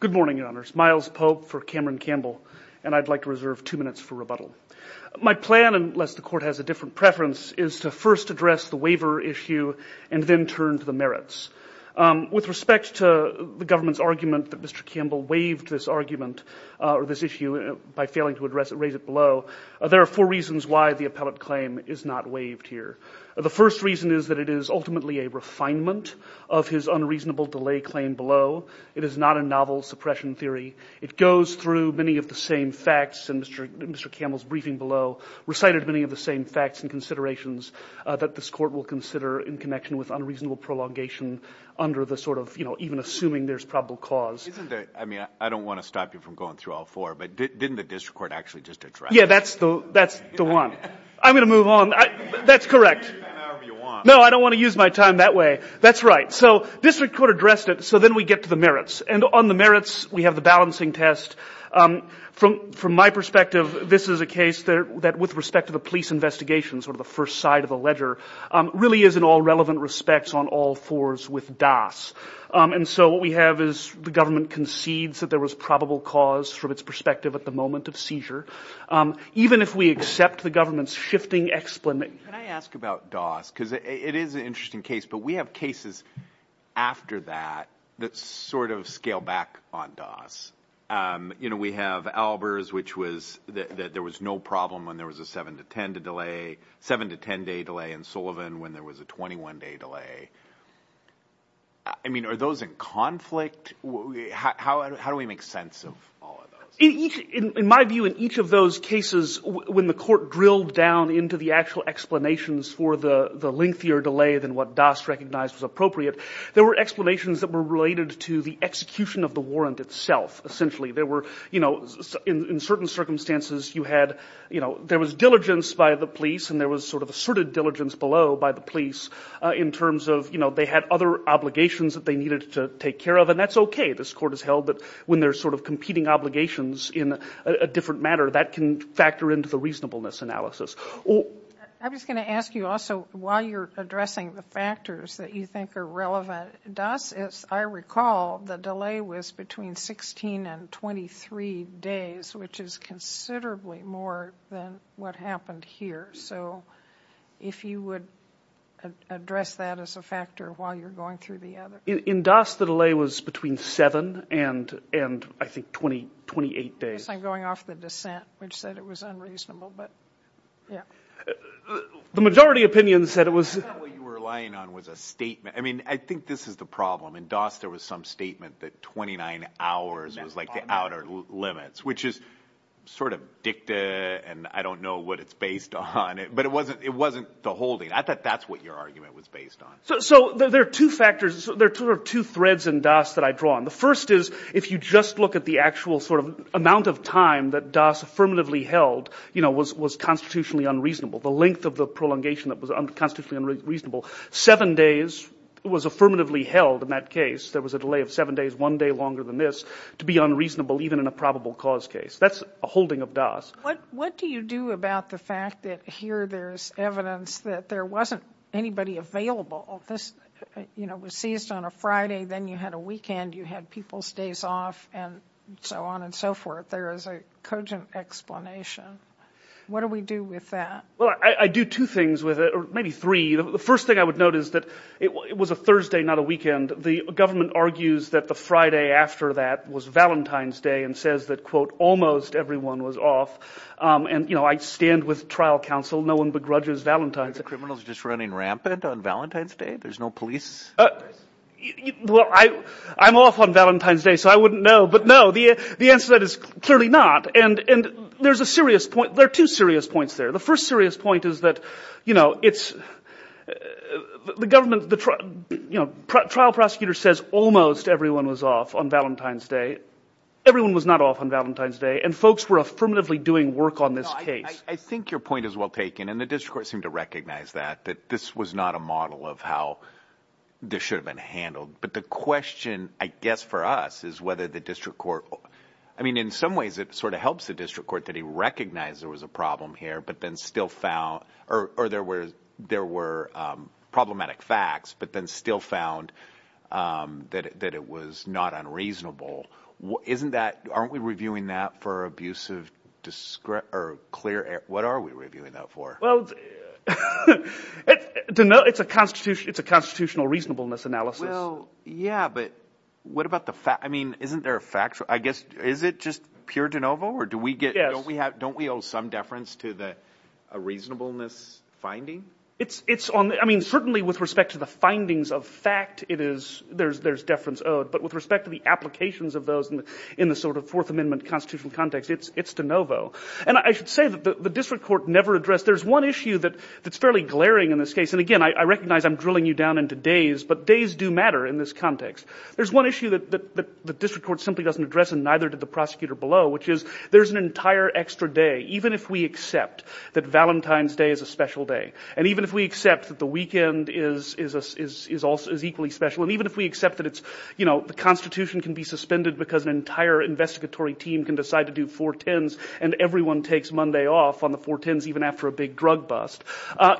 Good morning, Your Honors. Miles Pope for Cameron Campbell, and I'd like to reserve two minutes for rebuttal. My plan, unless the Court has a different preference, is to first address the waiver issue and then turn to the merits. With respect to the government's argument that Mr. Campbell waived this argument or this issue by failing to raise it below, there are four reasons why the appellate claim is not waived here. The first reason is that it is ultimately a refinement of his unreasonable delay claim below. It is not a novel suppression theory. It goes through many of the same facts, and Mr. Campbell's briefing below recited many of the same facts and considerations that this Court will consider in connection with unreasonable prolongation under the sort of, you know, even assuming there's probable cause. I mean, I don't want to stop you from going through all four, but didn't the District Court actually just address it? Yeah, that's the one. I'm going to move on. That's correct. No, I don't want to use my time that way. That's right. So District Court addressed it, so then we get to the merits. And on the merits, we have the balancing test. From my perspective, this is a case that with respect to the police investigation, sort of the first side of the ledger, really is in all relevant respects on all fours with DAS. And so what we have is the government concedes that there was probable cause from its perspective at the moment of seizure. Even if we accept the government's shifting explanation Can I ask about DAS? Because it is an interesting case, but we have cases after that that sort of scale back on DAS. You know, we have Albers, which was that there was no problem when there was a seven to ten day delay in Sullivan when there was a 21 day delay. I mean, are those in conflict? How do we make sense of all of those? In my view, in each of those cases, when the court drilled down into the actual explanations for the lengthier delay than what DAS recognized was appropriate, there were explanations that were related to the execution of the warrant itself, essentially. There were, you know, in certain circumstances, you had, you know, there was diligence by the police and there was sort of asserted diligence below by the police in terms of, you know, they had other obligations that they needed to take care of. And that's okay. This court has held that when there's sort of competing obligations in a different matter, that can factor into the reasonableness analysis. I was going to ask you also, while you're addressing the factors that you think are relevant, DAS, as I recall, the delay was between 16 and 23 days, which is considerably more than what happened here. So if you would address that as a factor while you're going through the other. In DAS, the delay was between 7 and, I think, 28 days. I guess I'm going off the dissent, which said it was unreasonable, but, yeah. The majority opinion said it was... I thought what you were relying on was a statement. I mean, I think this is the problem. In DAS, there was some statement that 29 hours was like the outer limits, which is sort of dicta and I don't know what it's based on, but it wasn't the holding. I thought that's what your argument was based on. So there are two factors. There are two threads in DAS that I draw on. The first is if you just look at the actual amount of time that DAS affirmatively held was constitutionally unreasonable. The length of the prolongation that was constitutionally unreasonable. Seven days was affirmatively held in that case. There was a delay of seven days, one day longer than this, to be unreasonable even in a probable cause case. That's a holding of DAS. What do you do about the fact that here there's evidence that there wasn't anybody available this, you know, was seized on a Friday, then you had a weekend, you had people's days off and so on and so forth. There is a cogent explanation. What do we do with that? Well, I do two things with it, or maybe three. The first thing I would note is that it was a Thursday, not a weekend. The government argues that the Friday after that was Valentine's Day and says that, quote, almost everyone was off. And, you know, I stand with trial counsel. No one begrudges Valentine's Day. Are the criminals just running rampant on Valentine's Day? There's no police presence? Well, I'm off on Valentine's Day, so I wouldn't know. But no, the answer to that is clearly not. And there's a serious point. There are two serious points there. The first serious point is that, you know, it's the government, you know, trial prosecutor says almost everyone was off on Valentine's Day. Everyone was not off on Valentine's Day. And folks were affirmatively doing work on this case. I think your point is well taken. And the district court seemed to recognize that, that this was not a model of how this should have been handled. But the question, I guess, for us is whether the district court, I mean, in some ways it sort of helps the district court that he recognized there was a problem here, but then still found, or there were problematic facts, but then still found that it was not unreasonable. Isn't that, aren't we reviewing that for abusive or clear, what are we reviewing that for? Well, it's a constitutional reasonableness analysis. Well, yeah, but what about the fact, I mean, isn't there a factual, I guess, is it just pure de novo or do we get, don't we owe some deference to the reasonableness finding? It's on, I mean, certainly with respect to the findings of fact, it is, there's deference owed, but with respect to the applications of those in the sort of Fourth Amendment constitutional context, it's de novo. And I should say that the district court never addressed, there's one issue that's fairly glaring in this case, and again, I recognize I'm drilling you down into days, but days do matter in this context. There's one issue that the district court simply doesn't address and neither did the prosecutor below, which is there's an entire extra day, even if we accept that Valentine's Day is a special day, and even if we accept that the weekend is equally special, and even if we accept that it's, you know, the Constitution can be suspended because an entire investigatory team can decide to do 410s and everyone takes Monday off on the 410s even after a big drug bust,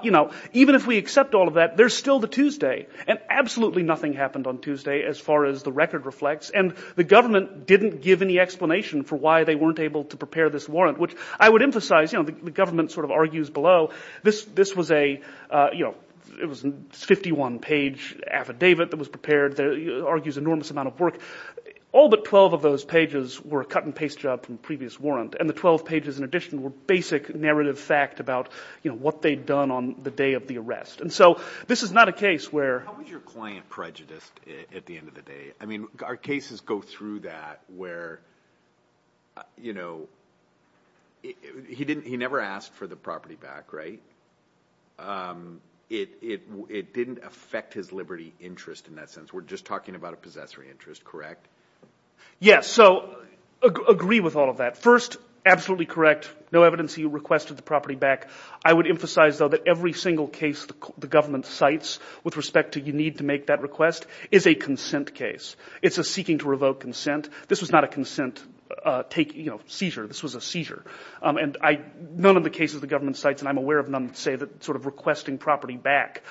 you know, even if we accept all of that, there's still the Tuesday, and absolutely nothing happened on Tuesday as far as the record reflects, and the government didn't give any explanation for why they weren't able to prepare this warrant, which I would emphasize, you know, the government sort of argues below, this was a, you know, it was a 51-page affidavit that was prepared that argues an enormous amount of work. All but 12 of those pages were a cut-and-paste job from a previous warrant, and the 12 pages in addition were basic narrative fact about, you know, what they'd done on the day of the arrest, and so this is not a case where... How was your client prejudiced at the end of the day? I mean, our cases go through that where, you know, he never asked for the property back, right? It didn't affect his liberty interest in that sense, we're just talking about a possessory interest, correct? Yes, so, I agree with all of that. First, absolutely correct, no evidence he requested the property back. I would emphasize, though, that every single case the government cites with respect to you need to make that request is a consent case. It's a seeking-to-revoke consent. This was not a consent seizure, this was a seizure. None of the cases the government cites, and I'm aware of none, say that sort of requesting property back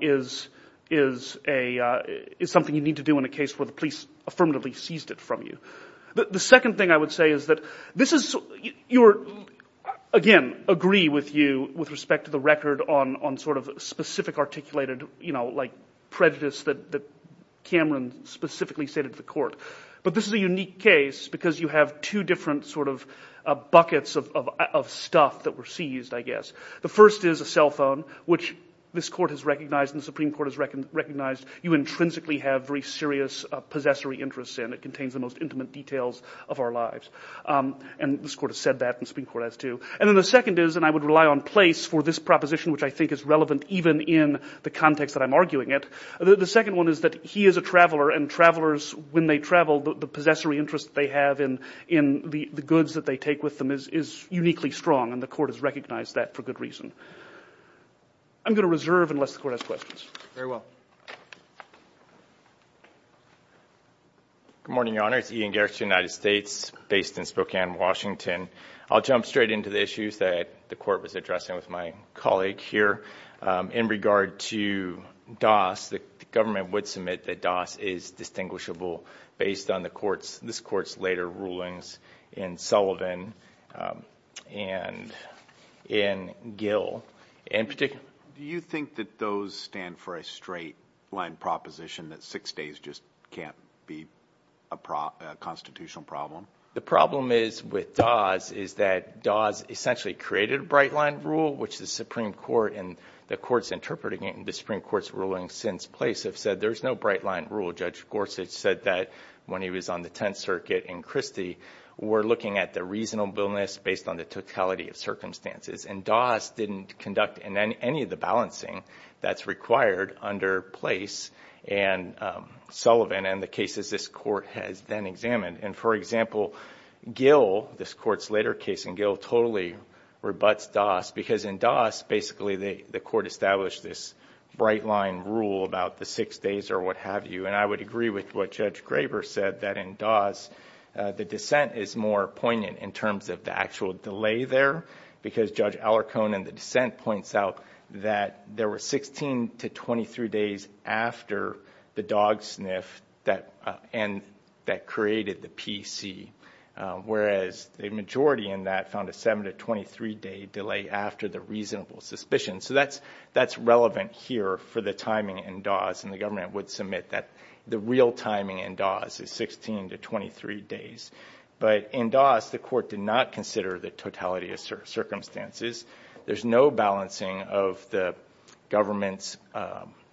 is something you need to do in a case where the police affirmatively seized it from you. The second thing I would say is that this is... Again, agree with you with respect to the record on sort of specific articulated, you know, like prejudice that Cameron specifically stated to the court. But this is a unique case, because you have two different sort of buckets of stuff that were seized, I guess. The first is a cell phone, which this court has recognized, and the Supreme Court has recognized, you intrinsically have very serious possessory interests in. It contains the most intimate details of our lives. And this court has said that, and the Supreme Court has too. And then the second is, and I would rely on place for this proposition, which I think is relevant even in the context that I'm arguing it. The second one is that he is a traveler, and travelers, when they travel, the possessory interest they have in the goods that they take with them is uniquely strong, and the court has recognized that for good reason. I'm going to reserve unless the court has questions. Very well. Good morning, Your Honor. It's Ian Gerst, United States, based in Spokane, Washington. I'll jump straight into the issues that the court was addressing with my colleague here in regard to DAS. The government would submit that DAS is distinguishable based on the court's, this court's later rulings in Sullivan and in Gill, in particular. Do you think that those stand for a straight line proposition that six days just can't be a constitutional problem? The problem is with DAS is that DAS essentially created a bright line rule, which the Supreme Court and the courts interpreting it in the Supreme Court's ruling since place have said there's no bright line rule. Judge Gorsuch said that when he was on the Tenth Circuit in Christie, we're looking at the reasonableness based on the totality of circumstances, and DAS didn't conduct any of the balancing that's required under place in Sullivan and the cases this court has then examined. For example, Gill, this court's later case in Gill, totally rebutts DAS because in DAS, basically, the court established this bright line rule about the six days or what have you. I would agree with what Judge Graber said that in DAS, the dissent is more poignant in terms of the actual delay there because Judge Alarcone in the dissent points out that there were 16 to 23 days after the dog sniff that created the PC, whereas the majority in that found a 7 to 23 day delay after the reasonable suspicion. So that's relevant here for the timing in DAS, and the government would submit that the real timing in DAS is 16 to 23 days. But in DAS, the court did not consider the totality of circumstances. There's no balancing of the government's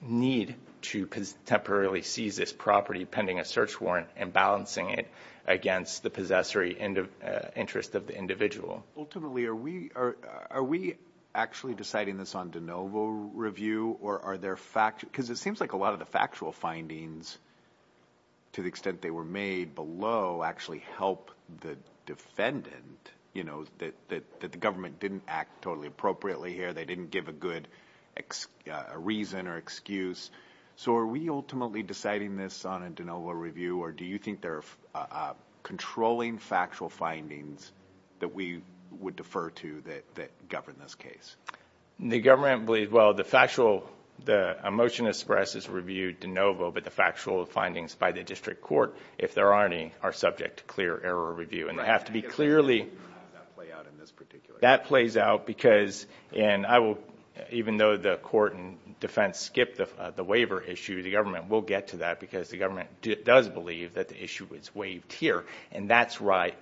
need to temporarily seize this property pending a search warrant and balancing it against the possessory interest of the individual. Ultimately, are we actually deciding this on de novo review? Because it seems like a lot of the factual findings, to the extent they were made below, actually help the defendant know that the government didn't act totally appropriately here. They didn't give a good reason or excuse. So are we ultimately deciding this on a de novo review, or do you think there are controlling factual findings that we would defer to that govern this case? The government believes, well, a motion expresses review de novo, but the factual findings by the district court, if there are any, are subject to clear error review. And that plays out because, even though the court and defense skipped the waiver issue, the government will get to that because the government does believe that the issue was waived here. And that's why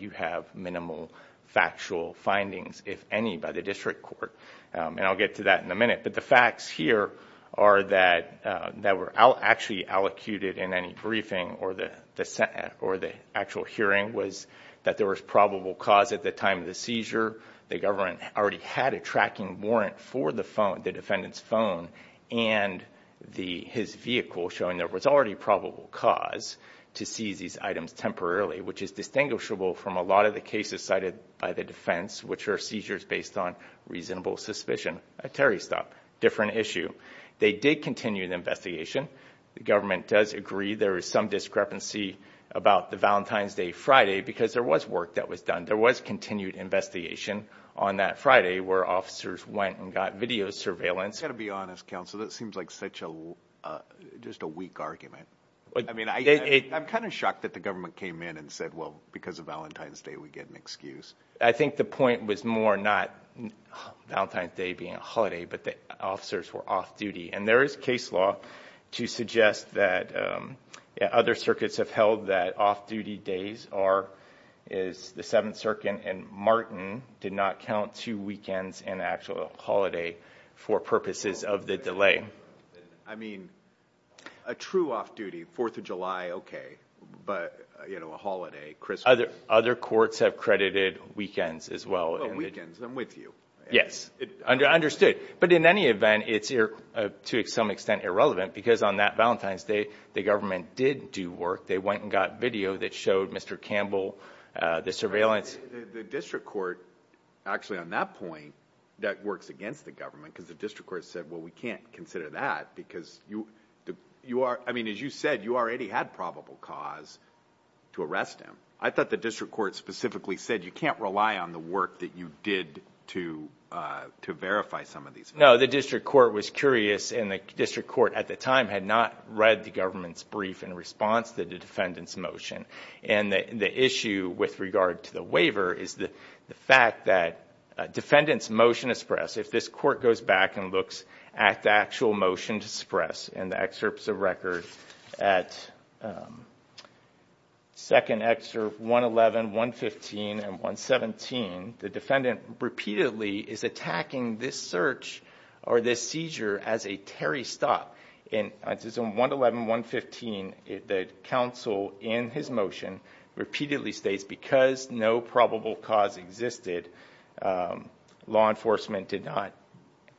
you have minimal factual findings, if any, by the district court. And I'll get to that in a minute. But the facts here are that were actually allocated in any briefing or the actual hearing was that there was probable cause at the time of the seizure. The government already had a tracking warrant for the phone, the defendant's phone, and his vehicle showing there was already probable cause to seize these items temporarily, which is distinguishable from a lot of the cases cited by the defense, which are seizures based on reasonable suspicion. A Terry stop, different issue. They did continue the investigation. The government does agree there is some discrepancy about the Valentine's Day Friday because there was work that was done. There was continued investigation on that Friday where officers went and got video surveillance. Got to be honest, counsel, that seems like such a just a weak argument. I mean, I'm kind of shocked that the government came in and said, well, because of Valentine's Day, we get an excuse. I think the point was more not Valentine's Day being a holiday, but the officers were off-duty. And there is case law to suggest that other circuits have held that off-duty days are is the Seventh Circuit and Martin did not count two weekends in actual holiday for purposes of the delay. I mean, a true off-duty Fourth of July. OK, but, you know, a holiday, Christmas. Other courts have credited weekends as well. Weekends, I'm with you. Yes, I understood. But in any event, it's to some extent irrelevant because on that Valentine's Day, the government did do work. They went and got video that showed Mr. Campbell, the surveillance, the district court actually on that point that works against the government, because the district court said, well, we can't consider that because you you are I mean, as you said, you already had probable cause to arrest him. I thought the district court specifically said you can't rely on the work that you did to to verify some of these. No, the district court was curious in the district court at the time had not read the government's brief in response to the defendant's motion. And the issue with regard to the waiver is the fact that defendants motion to suppress. If this court goes back and looks at the actual motion to suppress and the excerpts of records at. Second, extra one, 111, 115 and 117, the defendant repeatedly is attacking this search or this seizure as a Terry stop in one 111, 115, the counsel in his motion repeatedly states because no probable cause existed, law enforcement did not.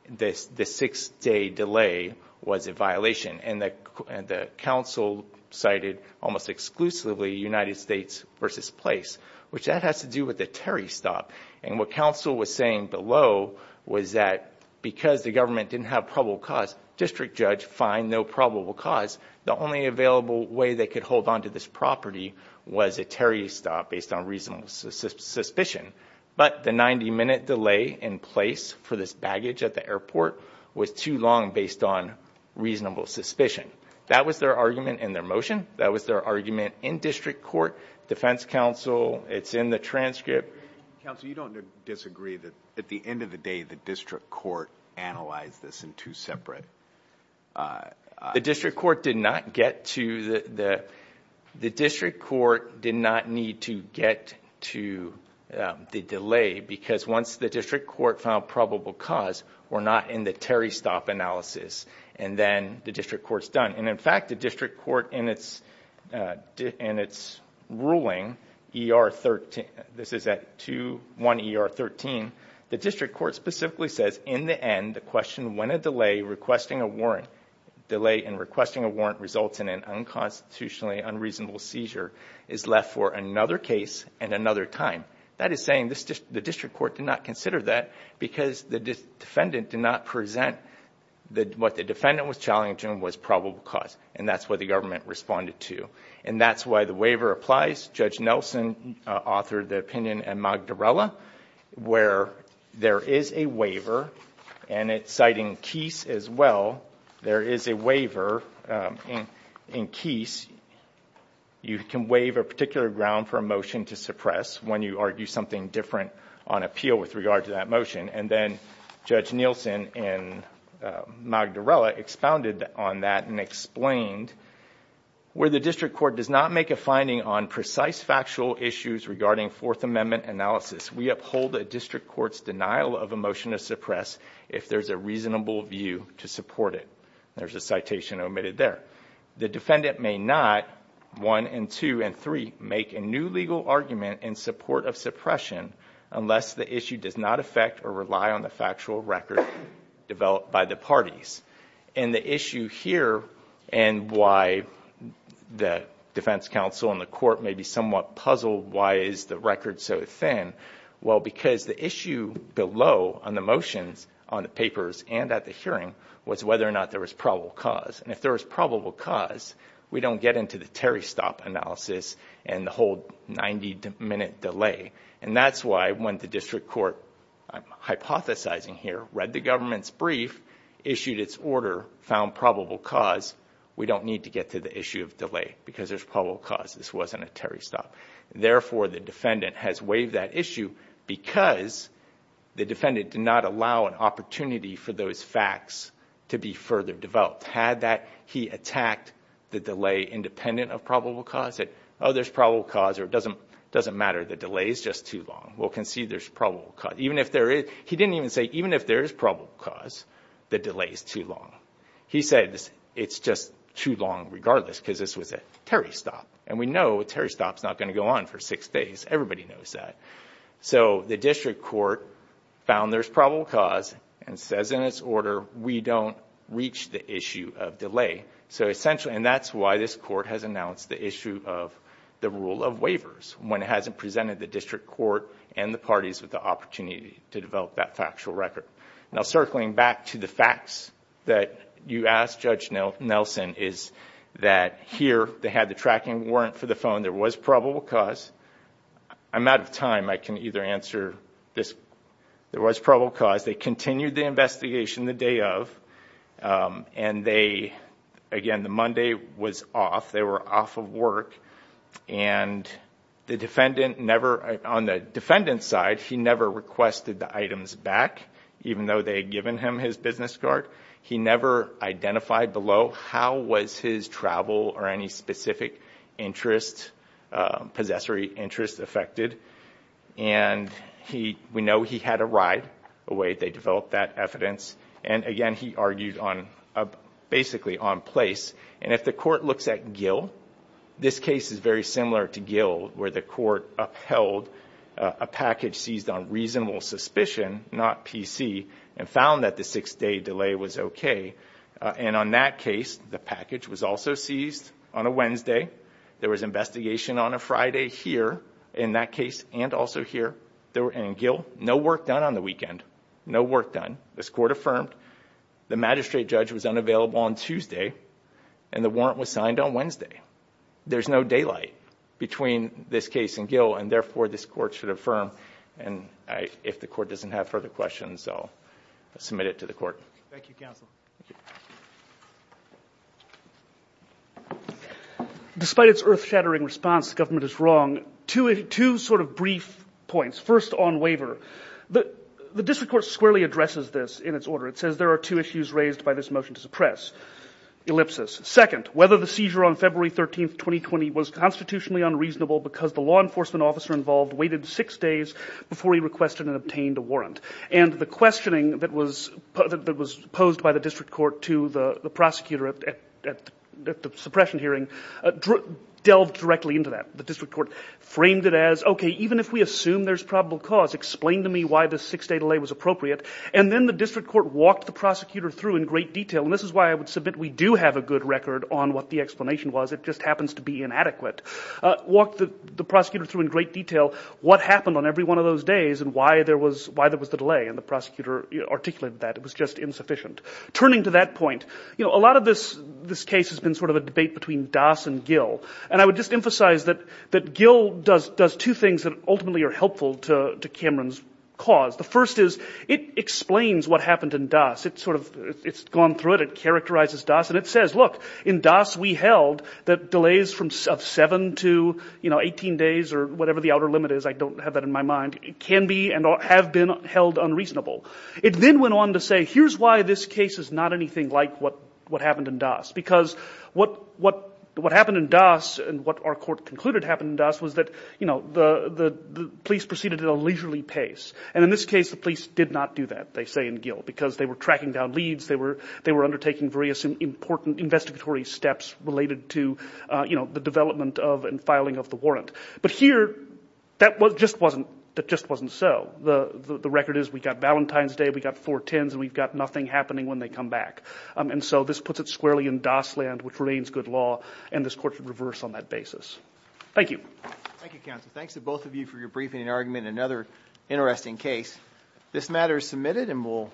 This the six day delay was a violation and the and the counsel cited almost exclusively United States versus place, which that has to do with the Terry stop. And what counsel was saying below was that because the government didn't have probable cause, district judge find no probable cause. The only available way they could hold on to this property was a Terry stop based on reasonable suspicion. But the 90 minute delay in place for this baggage at the airport was too long based on reasonable suspicion. That was their argument in their motion. That was their argument in district court. Defense counsel, it's in the transcript. Counsel, you don't disagree that at the end of the day, the district court analyzed this in two separate. The district court did not get to the the the district court did not need to get to the delay because once the district court found probable cause or not in the Terry stop analysis and then the district court's done. And in fact, the district court in its in its ruling ER 13, this is at 21 ER 13, the district court specifically says in the end, the question when a delay requesting a warrant delay and requesting a warrant results in an unconstitutionally unreasonable seizure is left for another case and another time. That is saying the district court did not consider that because the defendant did not present what the defendant was challenging was probable cause. And that's what the government responded to. And that's why the waiver applies. Judge Nelson authored the opinion and Magdarella where there is a waiver and it's citing case as well. There is a waiver in case you can waive a particular ground for a motion to suppress when you argue something different on appeal with regard to that motion. And then Judge Nielsen and Magdarella expounded on that and explained where the district court does not make a finding on precise factual issues regarding Fourth Amendment analysis. We uphold the district court's denial of a motion to suppress if there's a reasonable view to support it. There's a citation omitted there. The defendant may not one and two and three make a new legal argument in support of suppression unless the issue does not affect or rely on the factual record developed by the parties. And the issue here and why the defense counsel and the court may be somewhat puzzled why is the record so thin? Well, because the issue below on the motions on the papers and at the hearing was whether or not there was probable cause. And if there is probable cause, we don't get into the Terry stop analysis and the whole 90 minute delay. And that's why when the district court, I'm hypothesizing here, read the government's brief, issued its order, found probable cause, we don't need to get to the issue of delay because there's probable cause. This wasn't a Terry stop. Therefore, the defendant has waived that issue because the defendant did not allow an opportunity for those facts to be further developed. Had that, he attacked the delay independent of probable cause. Oh, there's probable cause or it doesn't matter. The delay is just too long. We'll concede there's probable cause. Even if there is, he didn't even say even if there is probable cause, the delay is too long. He said it's just too long regardless because this was a Terry stop and we know a Terry stop is not going to go on for six days. Everybody knows that. So the district court found there's probable cause and says in its order, we don't reach the issue of delay. So essentially, and that's why this court has announced the issue of the rule of waivers when it hasn't presented the district court and the parties with the opportunity to develop that factual record. Now, circling back to the facts that you asked Judge Nelson is that here they had the tracking warrant for the phone. There was probable cause. I'm out of time. I can either answer this. There was probable cause. They continued the investigation the day of and they, again, the Monday was off. They were off of work and the defendant never, on the defendant's side, he never requested the items back even though they had given him his business card. He never identified below how was his travel or any specific interest, possessory interest affected. And we know he had a ride away. They developed that evidence. And again, he argued on basically on place. And if the court looks at Gill, this case is very similar to Gill where the court upheld a package seized on reasonable suspicion, not PC, and found that the six day delay was OK. And on that case, the package was also seized on a Wednesday. There was investigation on a Friday here in that case and also here. There were no work done on the weekend. No work done. This court affirmed the magistrate judge was unavailable on Tuesday. And the warrant was signed on Wednesday. There's no daylight between this case and Gill. And therefore, this court should affirm. And if the court doesn't have further questions, I'll submit it to the court. Thank you, counsel. Despite its earth shattering response, the government is wrong. Two sort of brief points. First, on waiver, the district court squarely addresses this in its order. It says there are two issues raised by this motion to suppress. Ellipsis. Second, whether the seizure on February 13th, 2020 was constitutionally unreasonable because the law enforcement officer involved waited six days before he requested and obtained a And the questioning that was posed by the district court to the prosecutor at the suppression hearing delved directly into that. The district court framed it as, OK, even if we assume there's probable cause, explain to me why the six day delay was appropriate. And then the district court walked the prosecutor through in great detail. And this is why I would submit we do have a good record on what the explanation was. It just happens to be inadequate. Walk the prosecutor through in great detail what happened on every one of those days and why there was why there was the delay. And the prosecutor articulated that it was just insufficient. Turning to that point, you know, a lot of this this case has been sort of a debate between Doss and Gill. And I would just emphasize that that Gill does does two things that ultimately are helpful to Cameron's cause. The first is it explains what happened in Doss. It's sort of it's gone through it. It characterizes Doss. And it says, look, in Doss we held that delays from seven to 18 days or whatever the outer limit is. I don't have that in my mind. It can be and have been held unreasonable. It then went on to say, here's why this case is not anything like what what happened in Doss, because what what what happened in Doss and what our court concluded happened in Doss was that, you know, the police proceeded at a leisurely pace. And in this case, the police did not do that. They say in Gill, because they were tracking down leads. They were they were undertaking various important investigatory steps related to, you know, the development of and filing of the warrant. But here that was just wasn't that just wasn't so. The record is we got Valentine's Day. We got four tens and we've got nothing happening when they come back. And so this puts it squarely in Doss land, which remains good law. And this court should reverse on that basis. Thank you. Thank you, counsel. Thanks to both of you for your briefing and argument. Another interesting case. This matter is submitted and we'll.